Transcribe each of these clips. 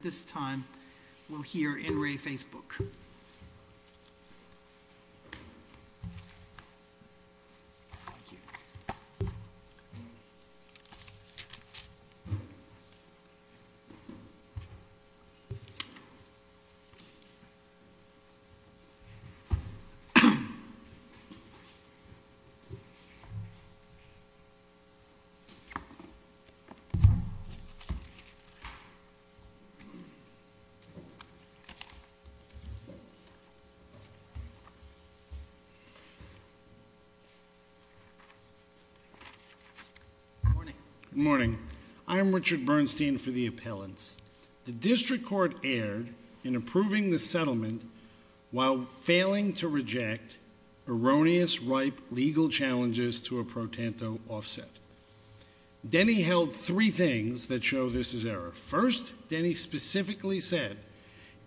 At this time, we'll hear N. Ray Facebook. Good morning. I am Richard Bernstein for the Appellants. The District Court erred in approving the settlement while failing to reject erroneous ripe legal challenges to a pro tanto offset. Denny held three things that show this is error. First, Denny specifically said,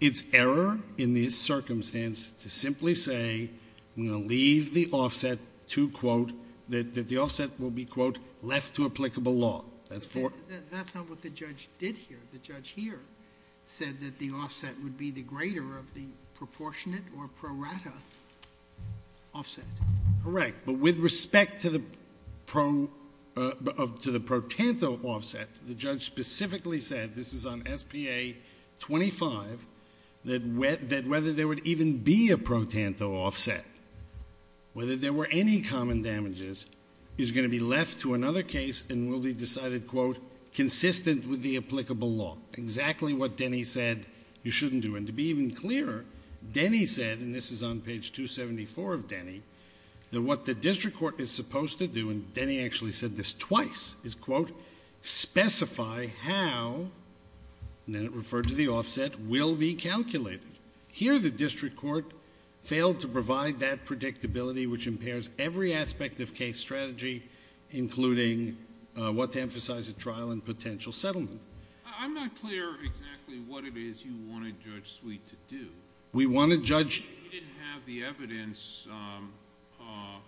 it's error in this circumstance to simply say, I'm going to leave the offset to, quote, that the offset will be, quote, left to applicable law. That's not what the judge did here. The judge here said that the offset would be the greater of the proportionate or pro rata offset. Correct. But with respect to the pro, to the pro tanto offset, the judge specifically said, this is on SPA 25, that whether there would even be a pro tanto offset, whether there were any common damages, is going to be left to another case and will be decided, quote, consistent with the applicable law. Exactly what Denny said you shouldn't do. And to be even clearer, Denny said, and this is on page 274 of Denny, that what the District Court is supposed to do, and Denny actually said this twice, is, quote, specify how, and then it referred to the offset, will be calculated. Here the District Court failed to provide that predictability which impairs every aspect of case strategy, including what to emphasize at trial and potential settlement. I'm not clear exactly what it is you wanted Judge Sweet to do. We wanted Judge... He didn't have the evidence, it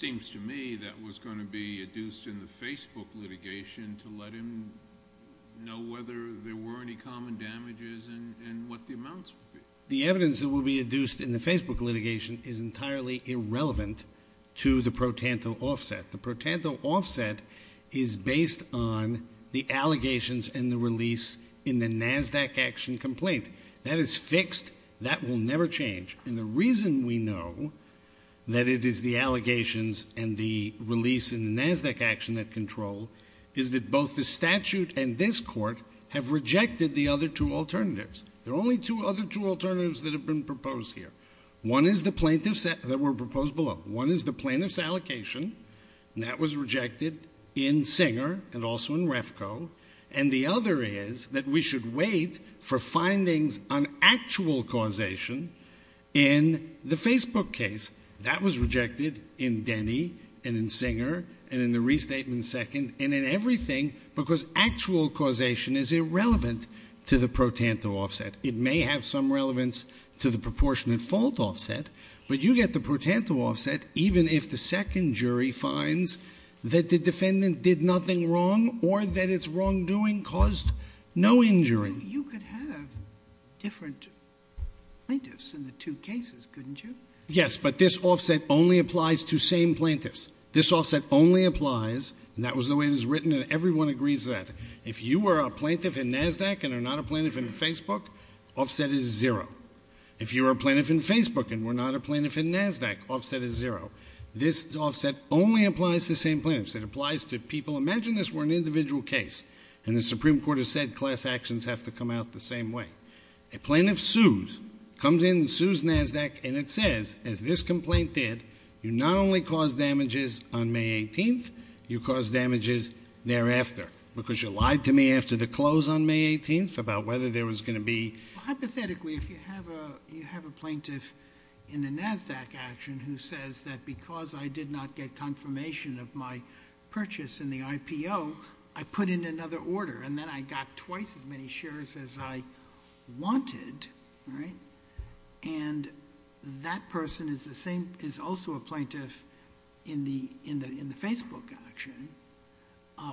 seems to me, that was going to be adduced in the Facebook litigation to let him know whether there were any common damages and what the amounts would be. The evidence that will be adduced in the Facebook litigation is entirely irrelevant to the pro tanto offset. The pro tanto offset is based on the allegations and the release in the NASDAQ action complaint. That is fixed. That will never change. And the reason we know that it is the allegations and the release in the NASDAQ action that control is that both the statute and this court have rejected the other two alternatives. There are only two other two alternatives that have been proposed here. One is the plaintiffs that were proposed below. One is the plaintiffs allocation and that was rejected in Singer and also in Refco. And the other is that we should wait for findings on actual causation in the Facebook case. That was rejected in Denny and in Singer and in the restatement second and in everything because actual causation is irrelevant to the pro tanto offset. It may have some relevance to the proportionate fault offset, but you get the pro tanto offset even if the second jury finds that the defendant did nothing wrong or that it's wrongdoing caused no injury. You could have different plaintiffs in the two cases, couldn't you? Yes, but this offset only applies to same plaintiffs. This offset only applies and that was the way it was written and everyone agrees that. If you were a plaintiff in NASDAQ and are not a plaintiff in Facebook, offset is zero. If you were a plaintiff in Facebook and were not a plaintiff in NASDAQ, offset is zero. This offset only applies to same plaintiffs. It applies to people. Imagine this were an individual case and the Supreme Court has said class actions have to come out the same way. A plaintiff sues, comes in and sues NASDAQ and it says, as this complaint did, you not only caused damages on May 18th, you caused damages thereafter because you lied to me after the close on May 18th about whether there was going to be... Hypothetically, if you have a plaintiff in the NASDAQ action who says that because I did not get confirmation of my purchase in the IPO, I put in another order and then I put in the Facebook action,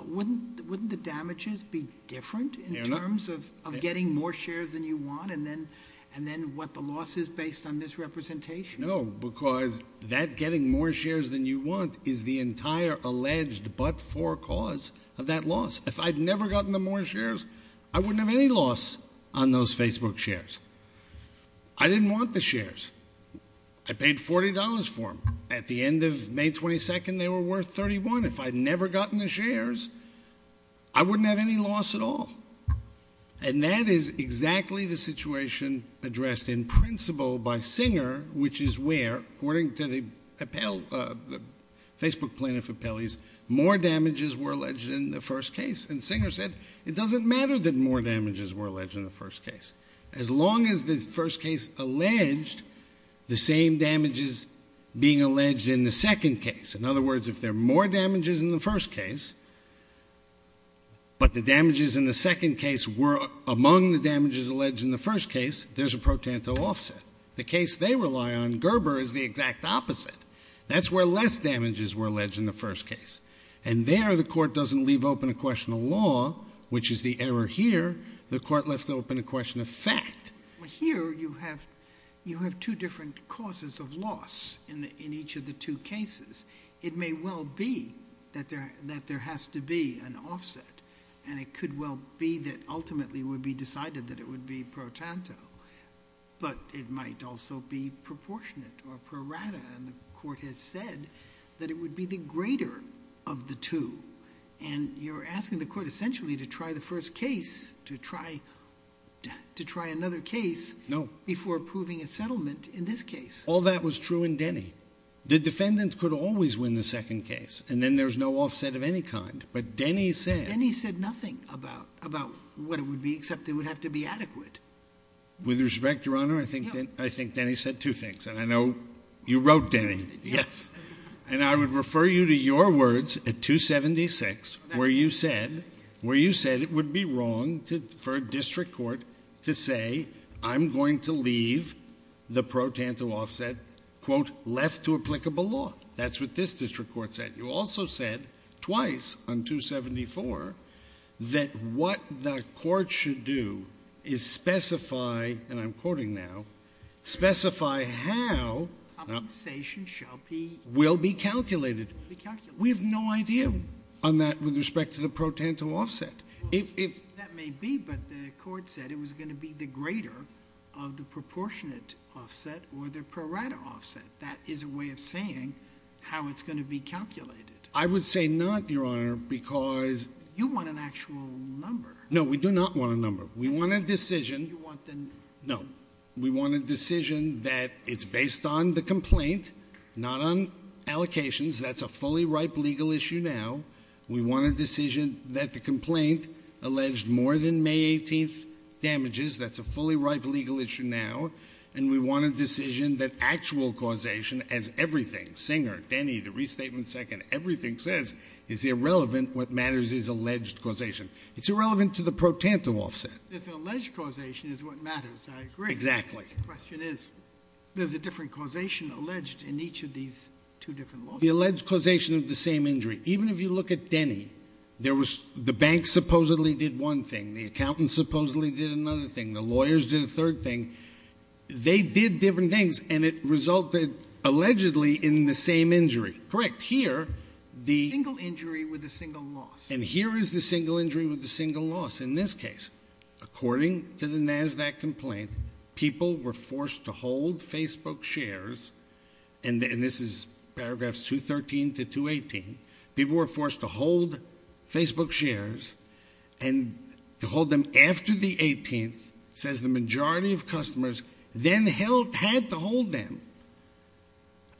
wouldn't the damages be different in terms of getting more shares than you want and then what the loss is based on misrepresentation? No, because that getting more shares than you want is the entire alleged but-for cause of that loss. If I'd never gotten the more shares, I wouldn't have any loss on those Facebook shares. I didn't want the shares. I paid $40 for them. At the end of May 22nd, they were worth $31. If I'd never gotten the shares, I wouldn't have any loss at all and that is exactly the situation addressed in principle by Singer, which is where, according to the Facebook plaintiff appellees, more damages were alleged in the first case and Singer said, it doesn't matter that more damages were alleged in the first case. As long as the first case alleged the same damages being alleged in the second case. In other words, if there are more damages in the first case but the damages in the second case were among the damages alleged in the first case, there's a pro tanto offset. The case they rely on, Gerber, is the exact opposite. That's where less damages were alleged in the first case and there, the court doesn't leave open a question of law, which is the error here. The court lets open a question of fact. Here you have two different causes of loss in each of the two cases. It may well be that there has to be an offset and it could well be that ultimately it would be decided that it would be pro tanto but it might also be proportionate or prorata and the court has said that it would be the greater of the two and you're asking the court essentially to try the first case, to try another case before approving a settlement in this case. All that was true in Denny. The defendant could always win the second case and then there's no offset of any kind but Denny said... Denny said nothing about what it would be except it would have to be adequate. With respect, Your Honor, I think Denny said two things and I know you wrote Denny, yes, and I would refer you to your words at 276 where you said it would be wrong for a district court to say I'm going to leave the pro tanto offset, quote, left to applicable law. That's what this district court said. You also said twice on 274 that what the court should do is specify, and I'm quoting now, specify how compensation will be calculated. We have no idea on that with respect to the pro tanto offset. That may be but the court said it was going to be the greater of the proportionate offset or the prorata offset. That is a way of saying how it's going to be calculated. I would say not, Your Honor, because... You want an actual number. No, we do not want a number. We want a decision. You want the... No, we want a decision that it's based on the complaint, not on allocations. That's a fully ripe legal issue now. We want a decision that the complaint alleged more than May 18th damages. That's a fully ripe legal issue now. And we want a decision that actual causation as everything, Singer, Denny, the restatement second, everything says is irrelevant what matters is alleged causation. It's irrelevant to the pro tanto offset. It's an alleged causation is what matters. I agree. Exactly. The question is, there's a different causation alleged in each of these two different lawsuits. The alleged causation of the same injury. Even if you look at Denny, the bank supposedly did one thing. The accountant supposedly did another thing. The lawyers did a third thing. They did different things and it resulted allegedly in the same injury. Correct. Here, the... A single injury with a single loss. And here is the single injury with a single loss. In this case, according to the NASDAQ complaint, people were forced to hold Facebook shares and this is paragraphs 213 to 218. People were forced to hold Facebook shares and to hold them after the 18th says the majority of customers then had to hold them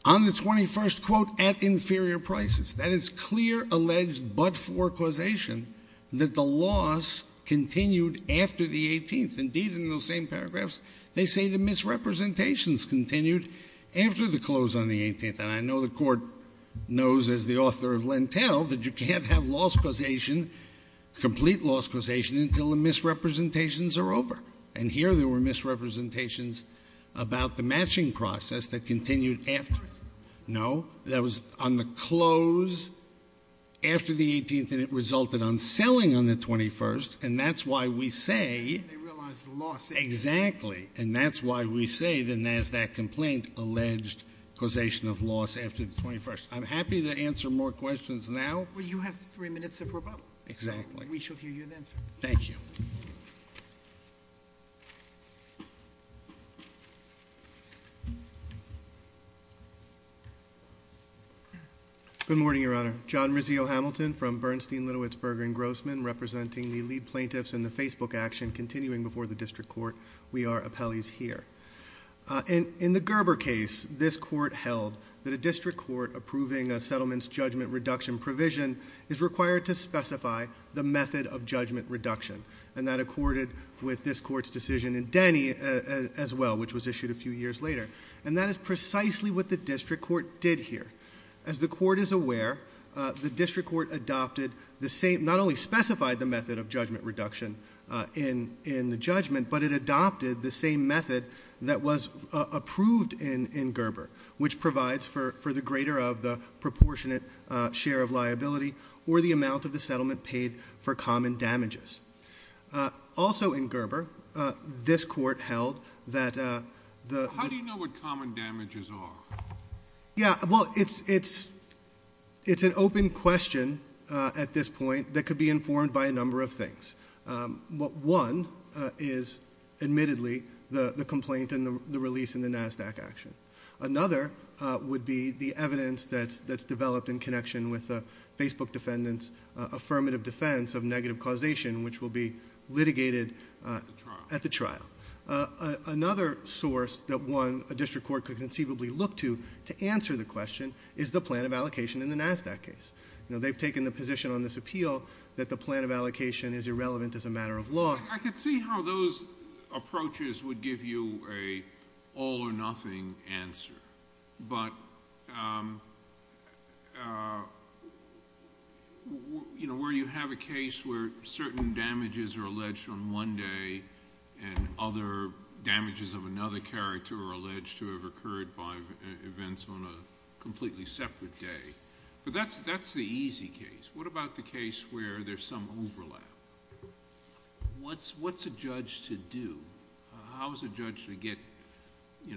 on the 21st quote at inferior prices. That is clear alleged but-for causation that the loss continued after the 18th. Indeed, in those same paragraphs, they say the misrepresentations continued after the close on the 18th. And I know the Court knows as the author of Lentell that you can't have loss causation, complete loss causation, until the misrepresentations are over. And here, there were misrepresentations about the matching process that continued after it. No. No. That was on the close after the 18th and it resulted on selling on the 21st and that's why we say... They realized the loss... Exactly. And that's why we say the NASDAQ complaint alleged causation of loss after the 21st. I'm happy to answer more questions now. Well, you have three minutes of rebuttal. Exactly. We shall hear you then, sir. Thank you. Good morning, Your Honor. John Rizzio-Hamilton from Bernstein, Littlewits, Berger & Grossman, representing the lead plaintiffs in the Facebook action continuing before the District Court. We are appellees here. In the Gerber case, this Court held that a District Court approving a settlement's judgment reduction provision is required to specify the method of judgment reduction. And that accorded with this Court's decision in Denny as well, which was issued a few years later. And that is precisely what the District Court did here. As the Court is aware, the District Court adopted the same... not only specified the method of judgment reduction in the judgment, but it adopted the same method that was approved in Gerber, which provides for the greater of the proportionate share of liability or the amount of the settlement paid for common damages. How do you know what common damages are? Yeah, well, it's an open question at this point that could be informed by a number of things. One is, admittedly, the complaint and the release in the NASDAQ action. Another would be the evidence that's developed in connection with the Facebook defendant's affirmative defense of negative causation, which will be litigated at the trial. Another source that one, a District Court could conceivably look to, to answer the question is the plan of allocation in the NASDAQ case. They've taken the position on this appeal that the plan of allocation is irrelevant as a matter of law. I could see how those approaches would give you an all or nothing answer, but where you have a case where certain damages are alleged on one day and other damages of another character are alleged to have occurred by events on a completely separate day, but that's the easy case. What about the case where there's some overlap? What's a judge to do? How is a judge to get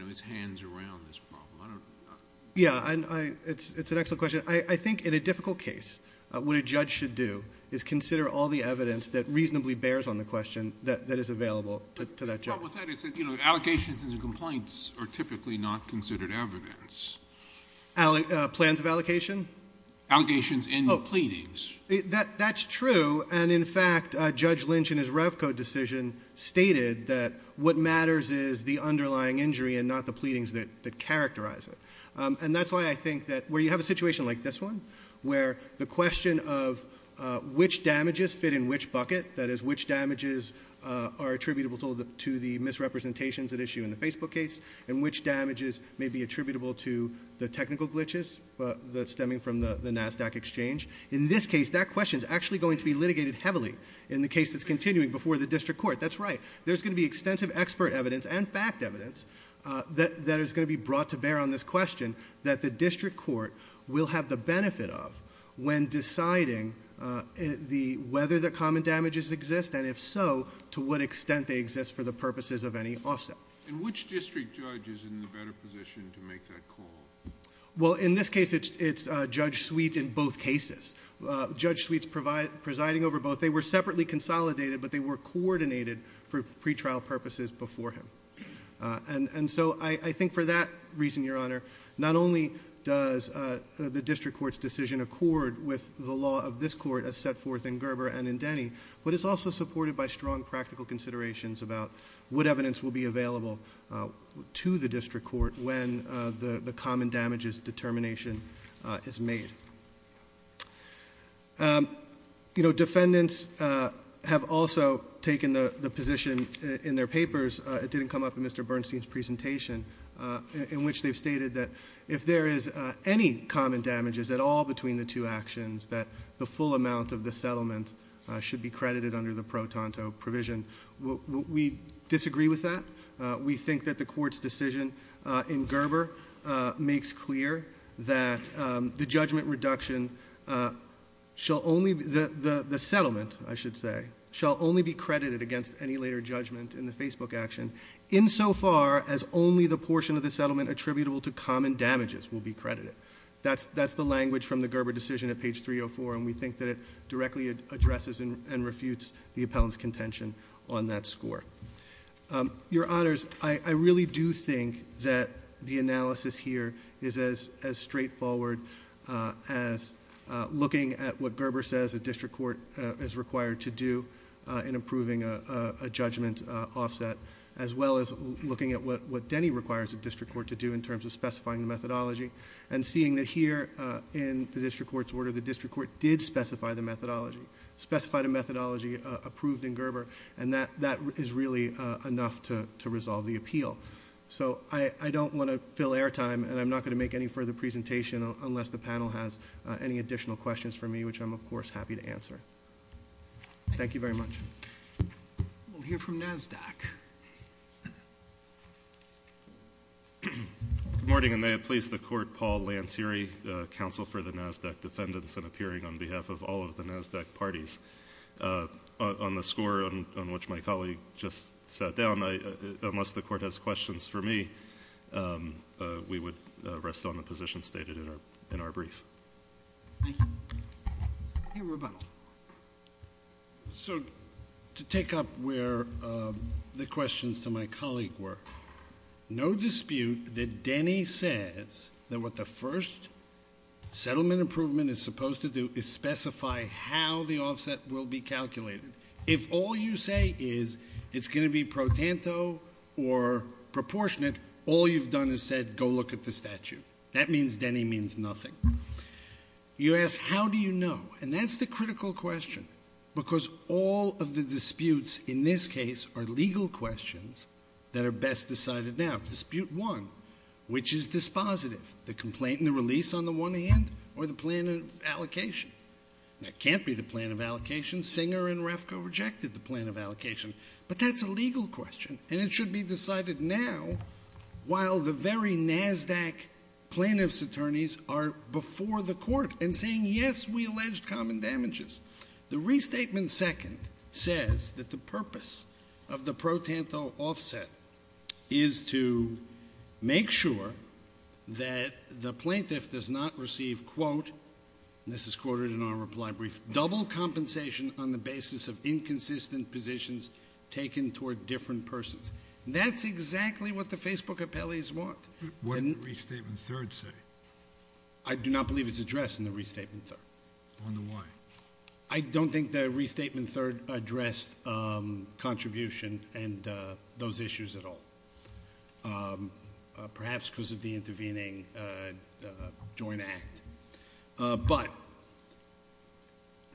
his hands around this problem? I don't... Yeah, it's an excellent question. I think in a difficult case, what a judge should do is consider all the evidence that reasonably bears on the question that is available to that judge. The problem with that is that allocations and complaints are typically not considered evidence. Plans of allocation? Allocations and pleadings. That's true, and in fact, Judge Lynch in his Revco decision stated that what matters is the underlying injury and not the pleadings that characterize it. That's why I think that where you have a situation like this one, where the question of which damages fit in which bucket, that is, which damages are attributable to the misrepresentations at issue in the Facebook case and which damages may be attributable to the technical glitches stemming from the NASDAQ exchange, in this case, that question is actually going to be litigated heavily in the case that's continuing before the district court. That's right. There's going to be extensive expert evidence and fact evidence that is going to be brought to bear on this question that the district court will have the benefit of when deciding whether the common damages exist, and if so, to what extent they exist for the purposes of any offset. Which district judge is in the better position to make that call? In this case, it's Judge Sweet in both cases. Judge Sweet's presiding over both. They were separately consolidated, but they were coordinated for pretrial purposes before him. And so, I think for that reason, Your Honor, not only does the district court's decision accord with the law of this court as set forth in Gerber and in Denny, but it's also supported by strong practical considerations about what evidence will be available to the district court when the common damages determination is made. You know, defendants have also taken the position in their papers. It didn't come up in Mr. Bernstein's presentation, in which they've stated that if there is any common damages at all between the two actions, that the full amount of the settlement should be credited under the pro tanto provision. We disagree with that. We think that the court's decision in Gerber makes clear that the judgment reduction shall only, the settlement, I should say, shall only be credited against any later judgment in the Facebook action, insofar as only the portion of the settlement attributable to common damages will be credited. That's the language from the Gerber decision at page 304, and we think that it directly addresses and refutes the appellant's contention on that score. Your Honors, I really do think that the analysis here is as straightforward as looking at what a judgment offset, as well as looking at what Denny requires a district court to do in terms of specifying the methodology, and seeing that here in the district court's order, the district court did specify the methodology, specified a methodology approved in Gerber, and that is really enough to resolve the appeal. So I don't want to fill airtime, and I'm not going to make any further presentation unless the panel has any additional questions for me, which I'm of course happy to answer. Thank you very much. We'll hear from NASDAQ. Good morning, and may it please the Court, Paul Lantieri, Counsel for the NASDAQ Defendants, and appearing on behalf of all of the NASDAQ parties. On the score on which my colleague just sat down, unless the Court has questions for me, we would rest on the position stated in our brief. Thank you. Hey, Rebuttal. So, to take up where the questions to my colleague were, no dispute that Denny says that what the first settlement improvement is supposed to do is specify how the offset will be calculated. If all you say is it's going to be pro tanto or proportionate, all you've done is said, go look at the statute. That means Denny means nothing. You asked how do you know, and that's the critical question, because all of the disputes in this case are legal questions that are best decided now. Dispute one, which is dispositive? The complaint and the release on the one hand, or the plan of allocation? That can't be the plan of allocation. Singer and Refko rejected the plan of allocation. But that's a legal question, and it should be decided now, while the very NASDAQ plaintiff's attorneys are before the court and saying, yes, we allege common damages. The restatement second says that the purpose of the pro tanto offset is to make sure that the plaintiff does not receive, quote, and this is quoted in our reply brief, double compensation on the basis of inconsistent positions taken toward different persons. That's exactly what the Facebook appellees want. What did the restatement third say? I do not believe it's addressed in the restatement third. On the why? I don't think the restatement third addressed contribution and those issues at all, perhaps because of the intervening joint act. But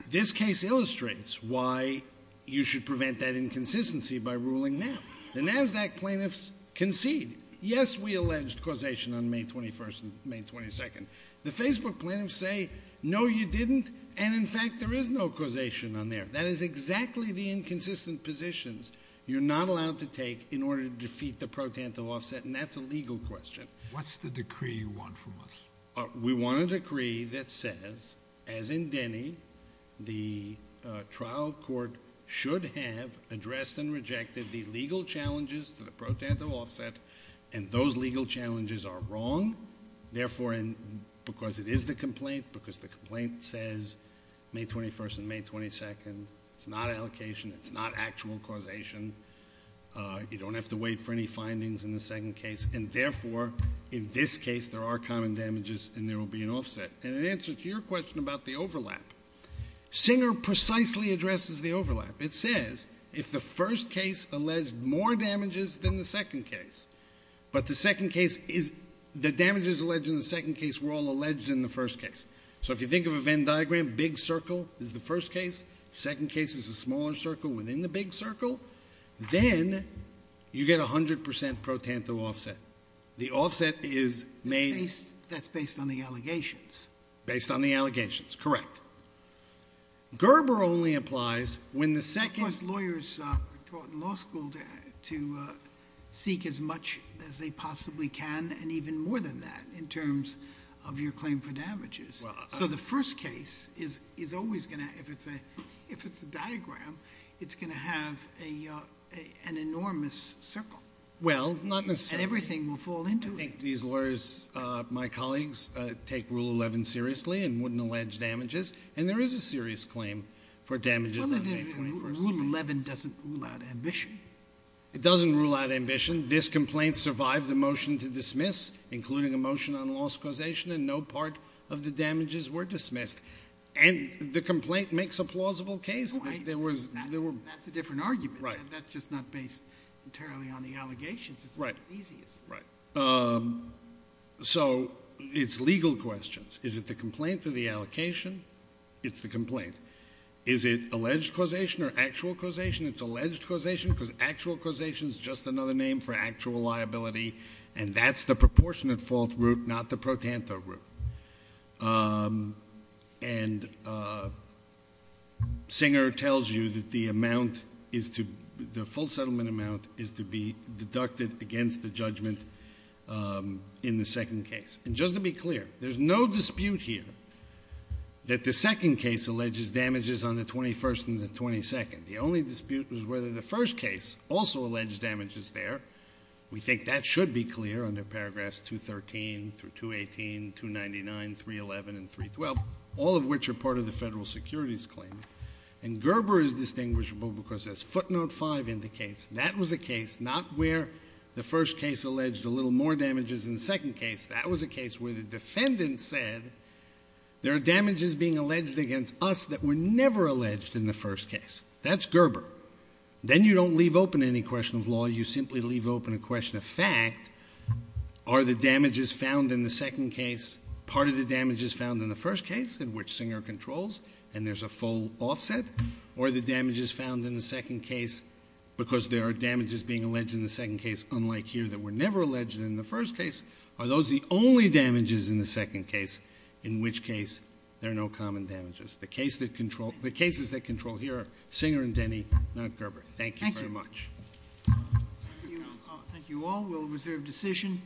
this case illustrates why you should prevent that inconsistency by ruling now. The NASDAQ plaintiffs concede, yes, we alleged causation on May 21st and May 22nd. The Facebook plaintiffs say, no, you didn't, and in fact there is no causation on there. That is exactly the inconsistent positions you're not allowed to take in order to defeat the pro tanto offset, and that's a legal question. What's the decree you want from us? We want a decree that says, as in Denny, the trial court should have addressed and rejected the legal challenges to the pro tanto offset, and those legal challenges are wrong, therefore, because it is the complaint, because the complaint says May 21st and May 22nd, it's not allocation, it's not actual causation. You don't have to wait for any findings in the second case, and therefore in this case there are common damages and there will be an offset. And in answer to your question about the overlap, Singer precisely addresses the overlap. It says if the first case alleged more damages than the second case, but the damages alleged in the second case were all alleged in the first case. So if you think of a Venn diagram, big circle is the first case, second case is a smaller circle within the big circle, then you get 100% pro tanto offset. The offset is made... That's based on the allegations. Based on the allegations, correct. Gerber only implies when the second... Of course, lawyers are taught in law school to seek as much as they possibly can and even more than that in terms of your claim for damages. So the first case is always going to, if it's a diagram, it's going to have an enormous circle. Well, not necessarily. And everything will fall into it. I think these lawyers, my colleagues, take Rule 11 seriously and wouldn't allege damages, and there is a serious claim for damages. Rule 11 doesn't rule out ambition. It doesn't rule out ambition. This complaint survived the motion to dismiss, including a motion on loss causation, and no part of the damages were dismissed. And the complaint makes a plausible case. That's a different argument. That's just not based entirely on the allegations. It's easiest. Right. So it's legal questions. Is it the complaint or the allocation? It's the complaint. Is it alleged causation or actual causation? It's alleged causation because actual causation is just another name for actual liability, and that's the proportionate fault route, not the protanto route. And Singer tells you that the amount is to be, the full settlement amount is to be deducted against the judgment in the second case. And just to be clear, there's no dispute here that the second case alleges damages on the 21st and the 22nd. The only dispute was whether the first case also alleged damages there. We think that should be clear under paragraphs 213 through 218, 299, 311, and 312, all of which are part of the federal securities claim. And Gerber is distinguishable because, as footnote 5 indicates, that was a case not where the first case alleged a little more damages in the second case. That was a case where the defendant said, there are damages being alleged against us that were never alleged in the first case. That's Gerber. Then you don't leave open any question of law. You simply leave open a question of fact. Are the damages found in the second case part of the damages found in the first case, in which Singer controls, and there's a full offset? Are the damages found in the second case, because there are damages being alleged in the second case unlike here that were never alleged in the first case, are those the only damages in the second case, in which case there are no common damages? The cases that control here are Singer and Denny, not Gerber. Thank you very much. Thank you all. We'll reserve decision.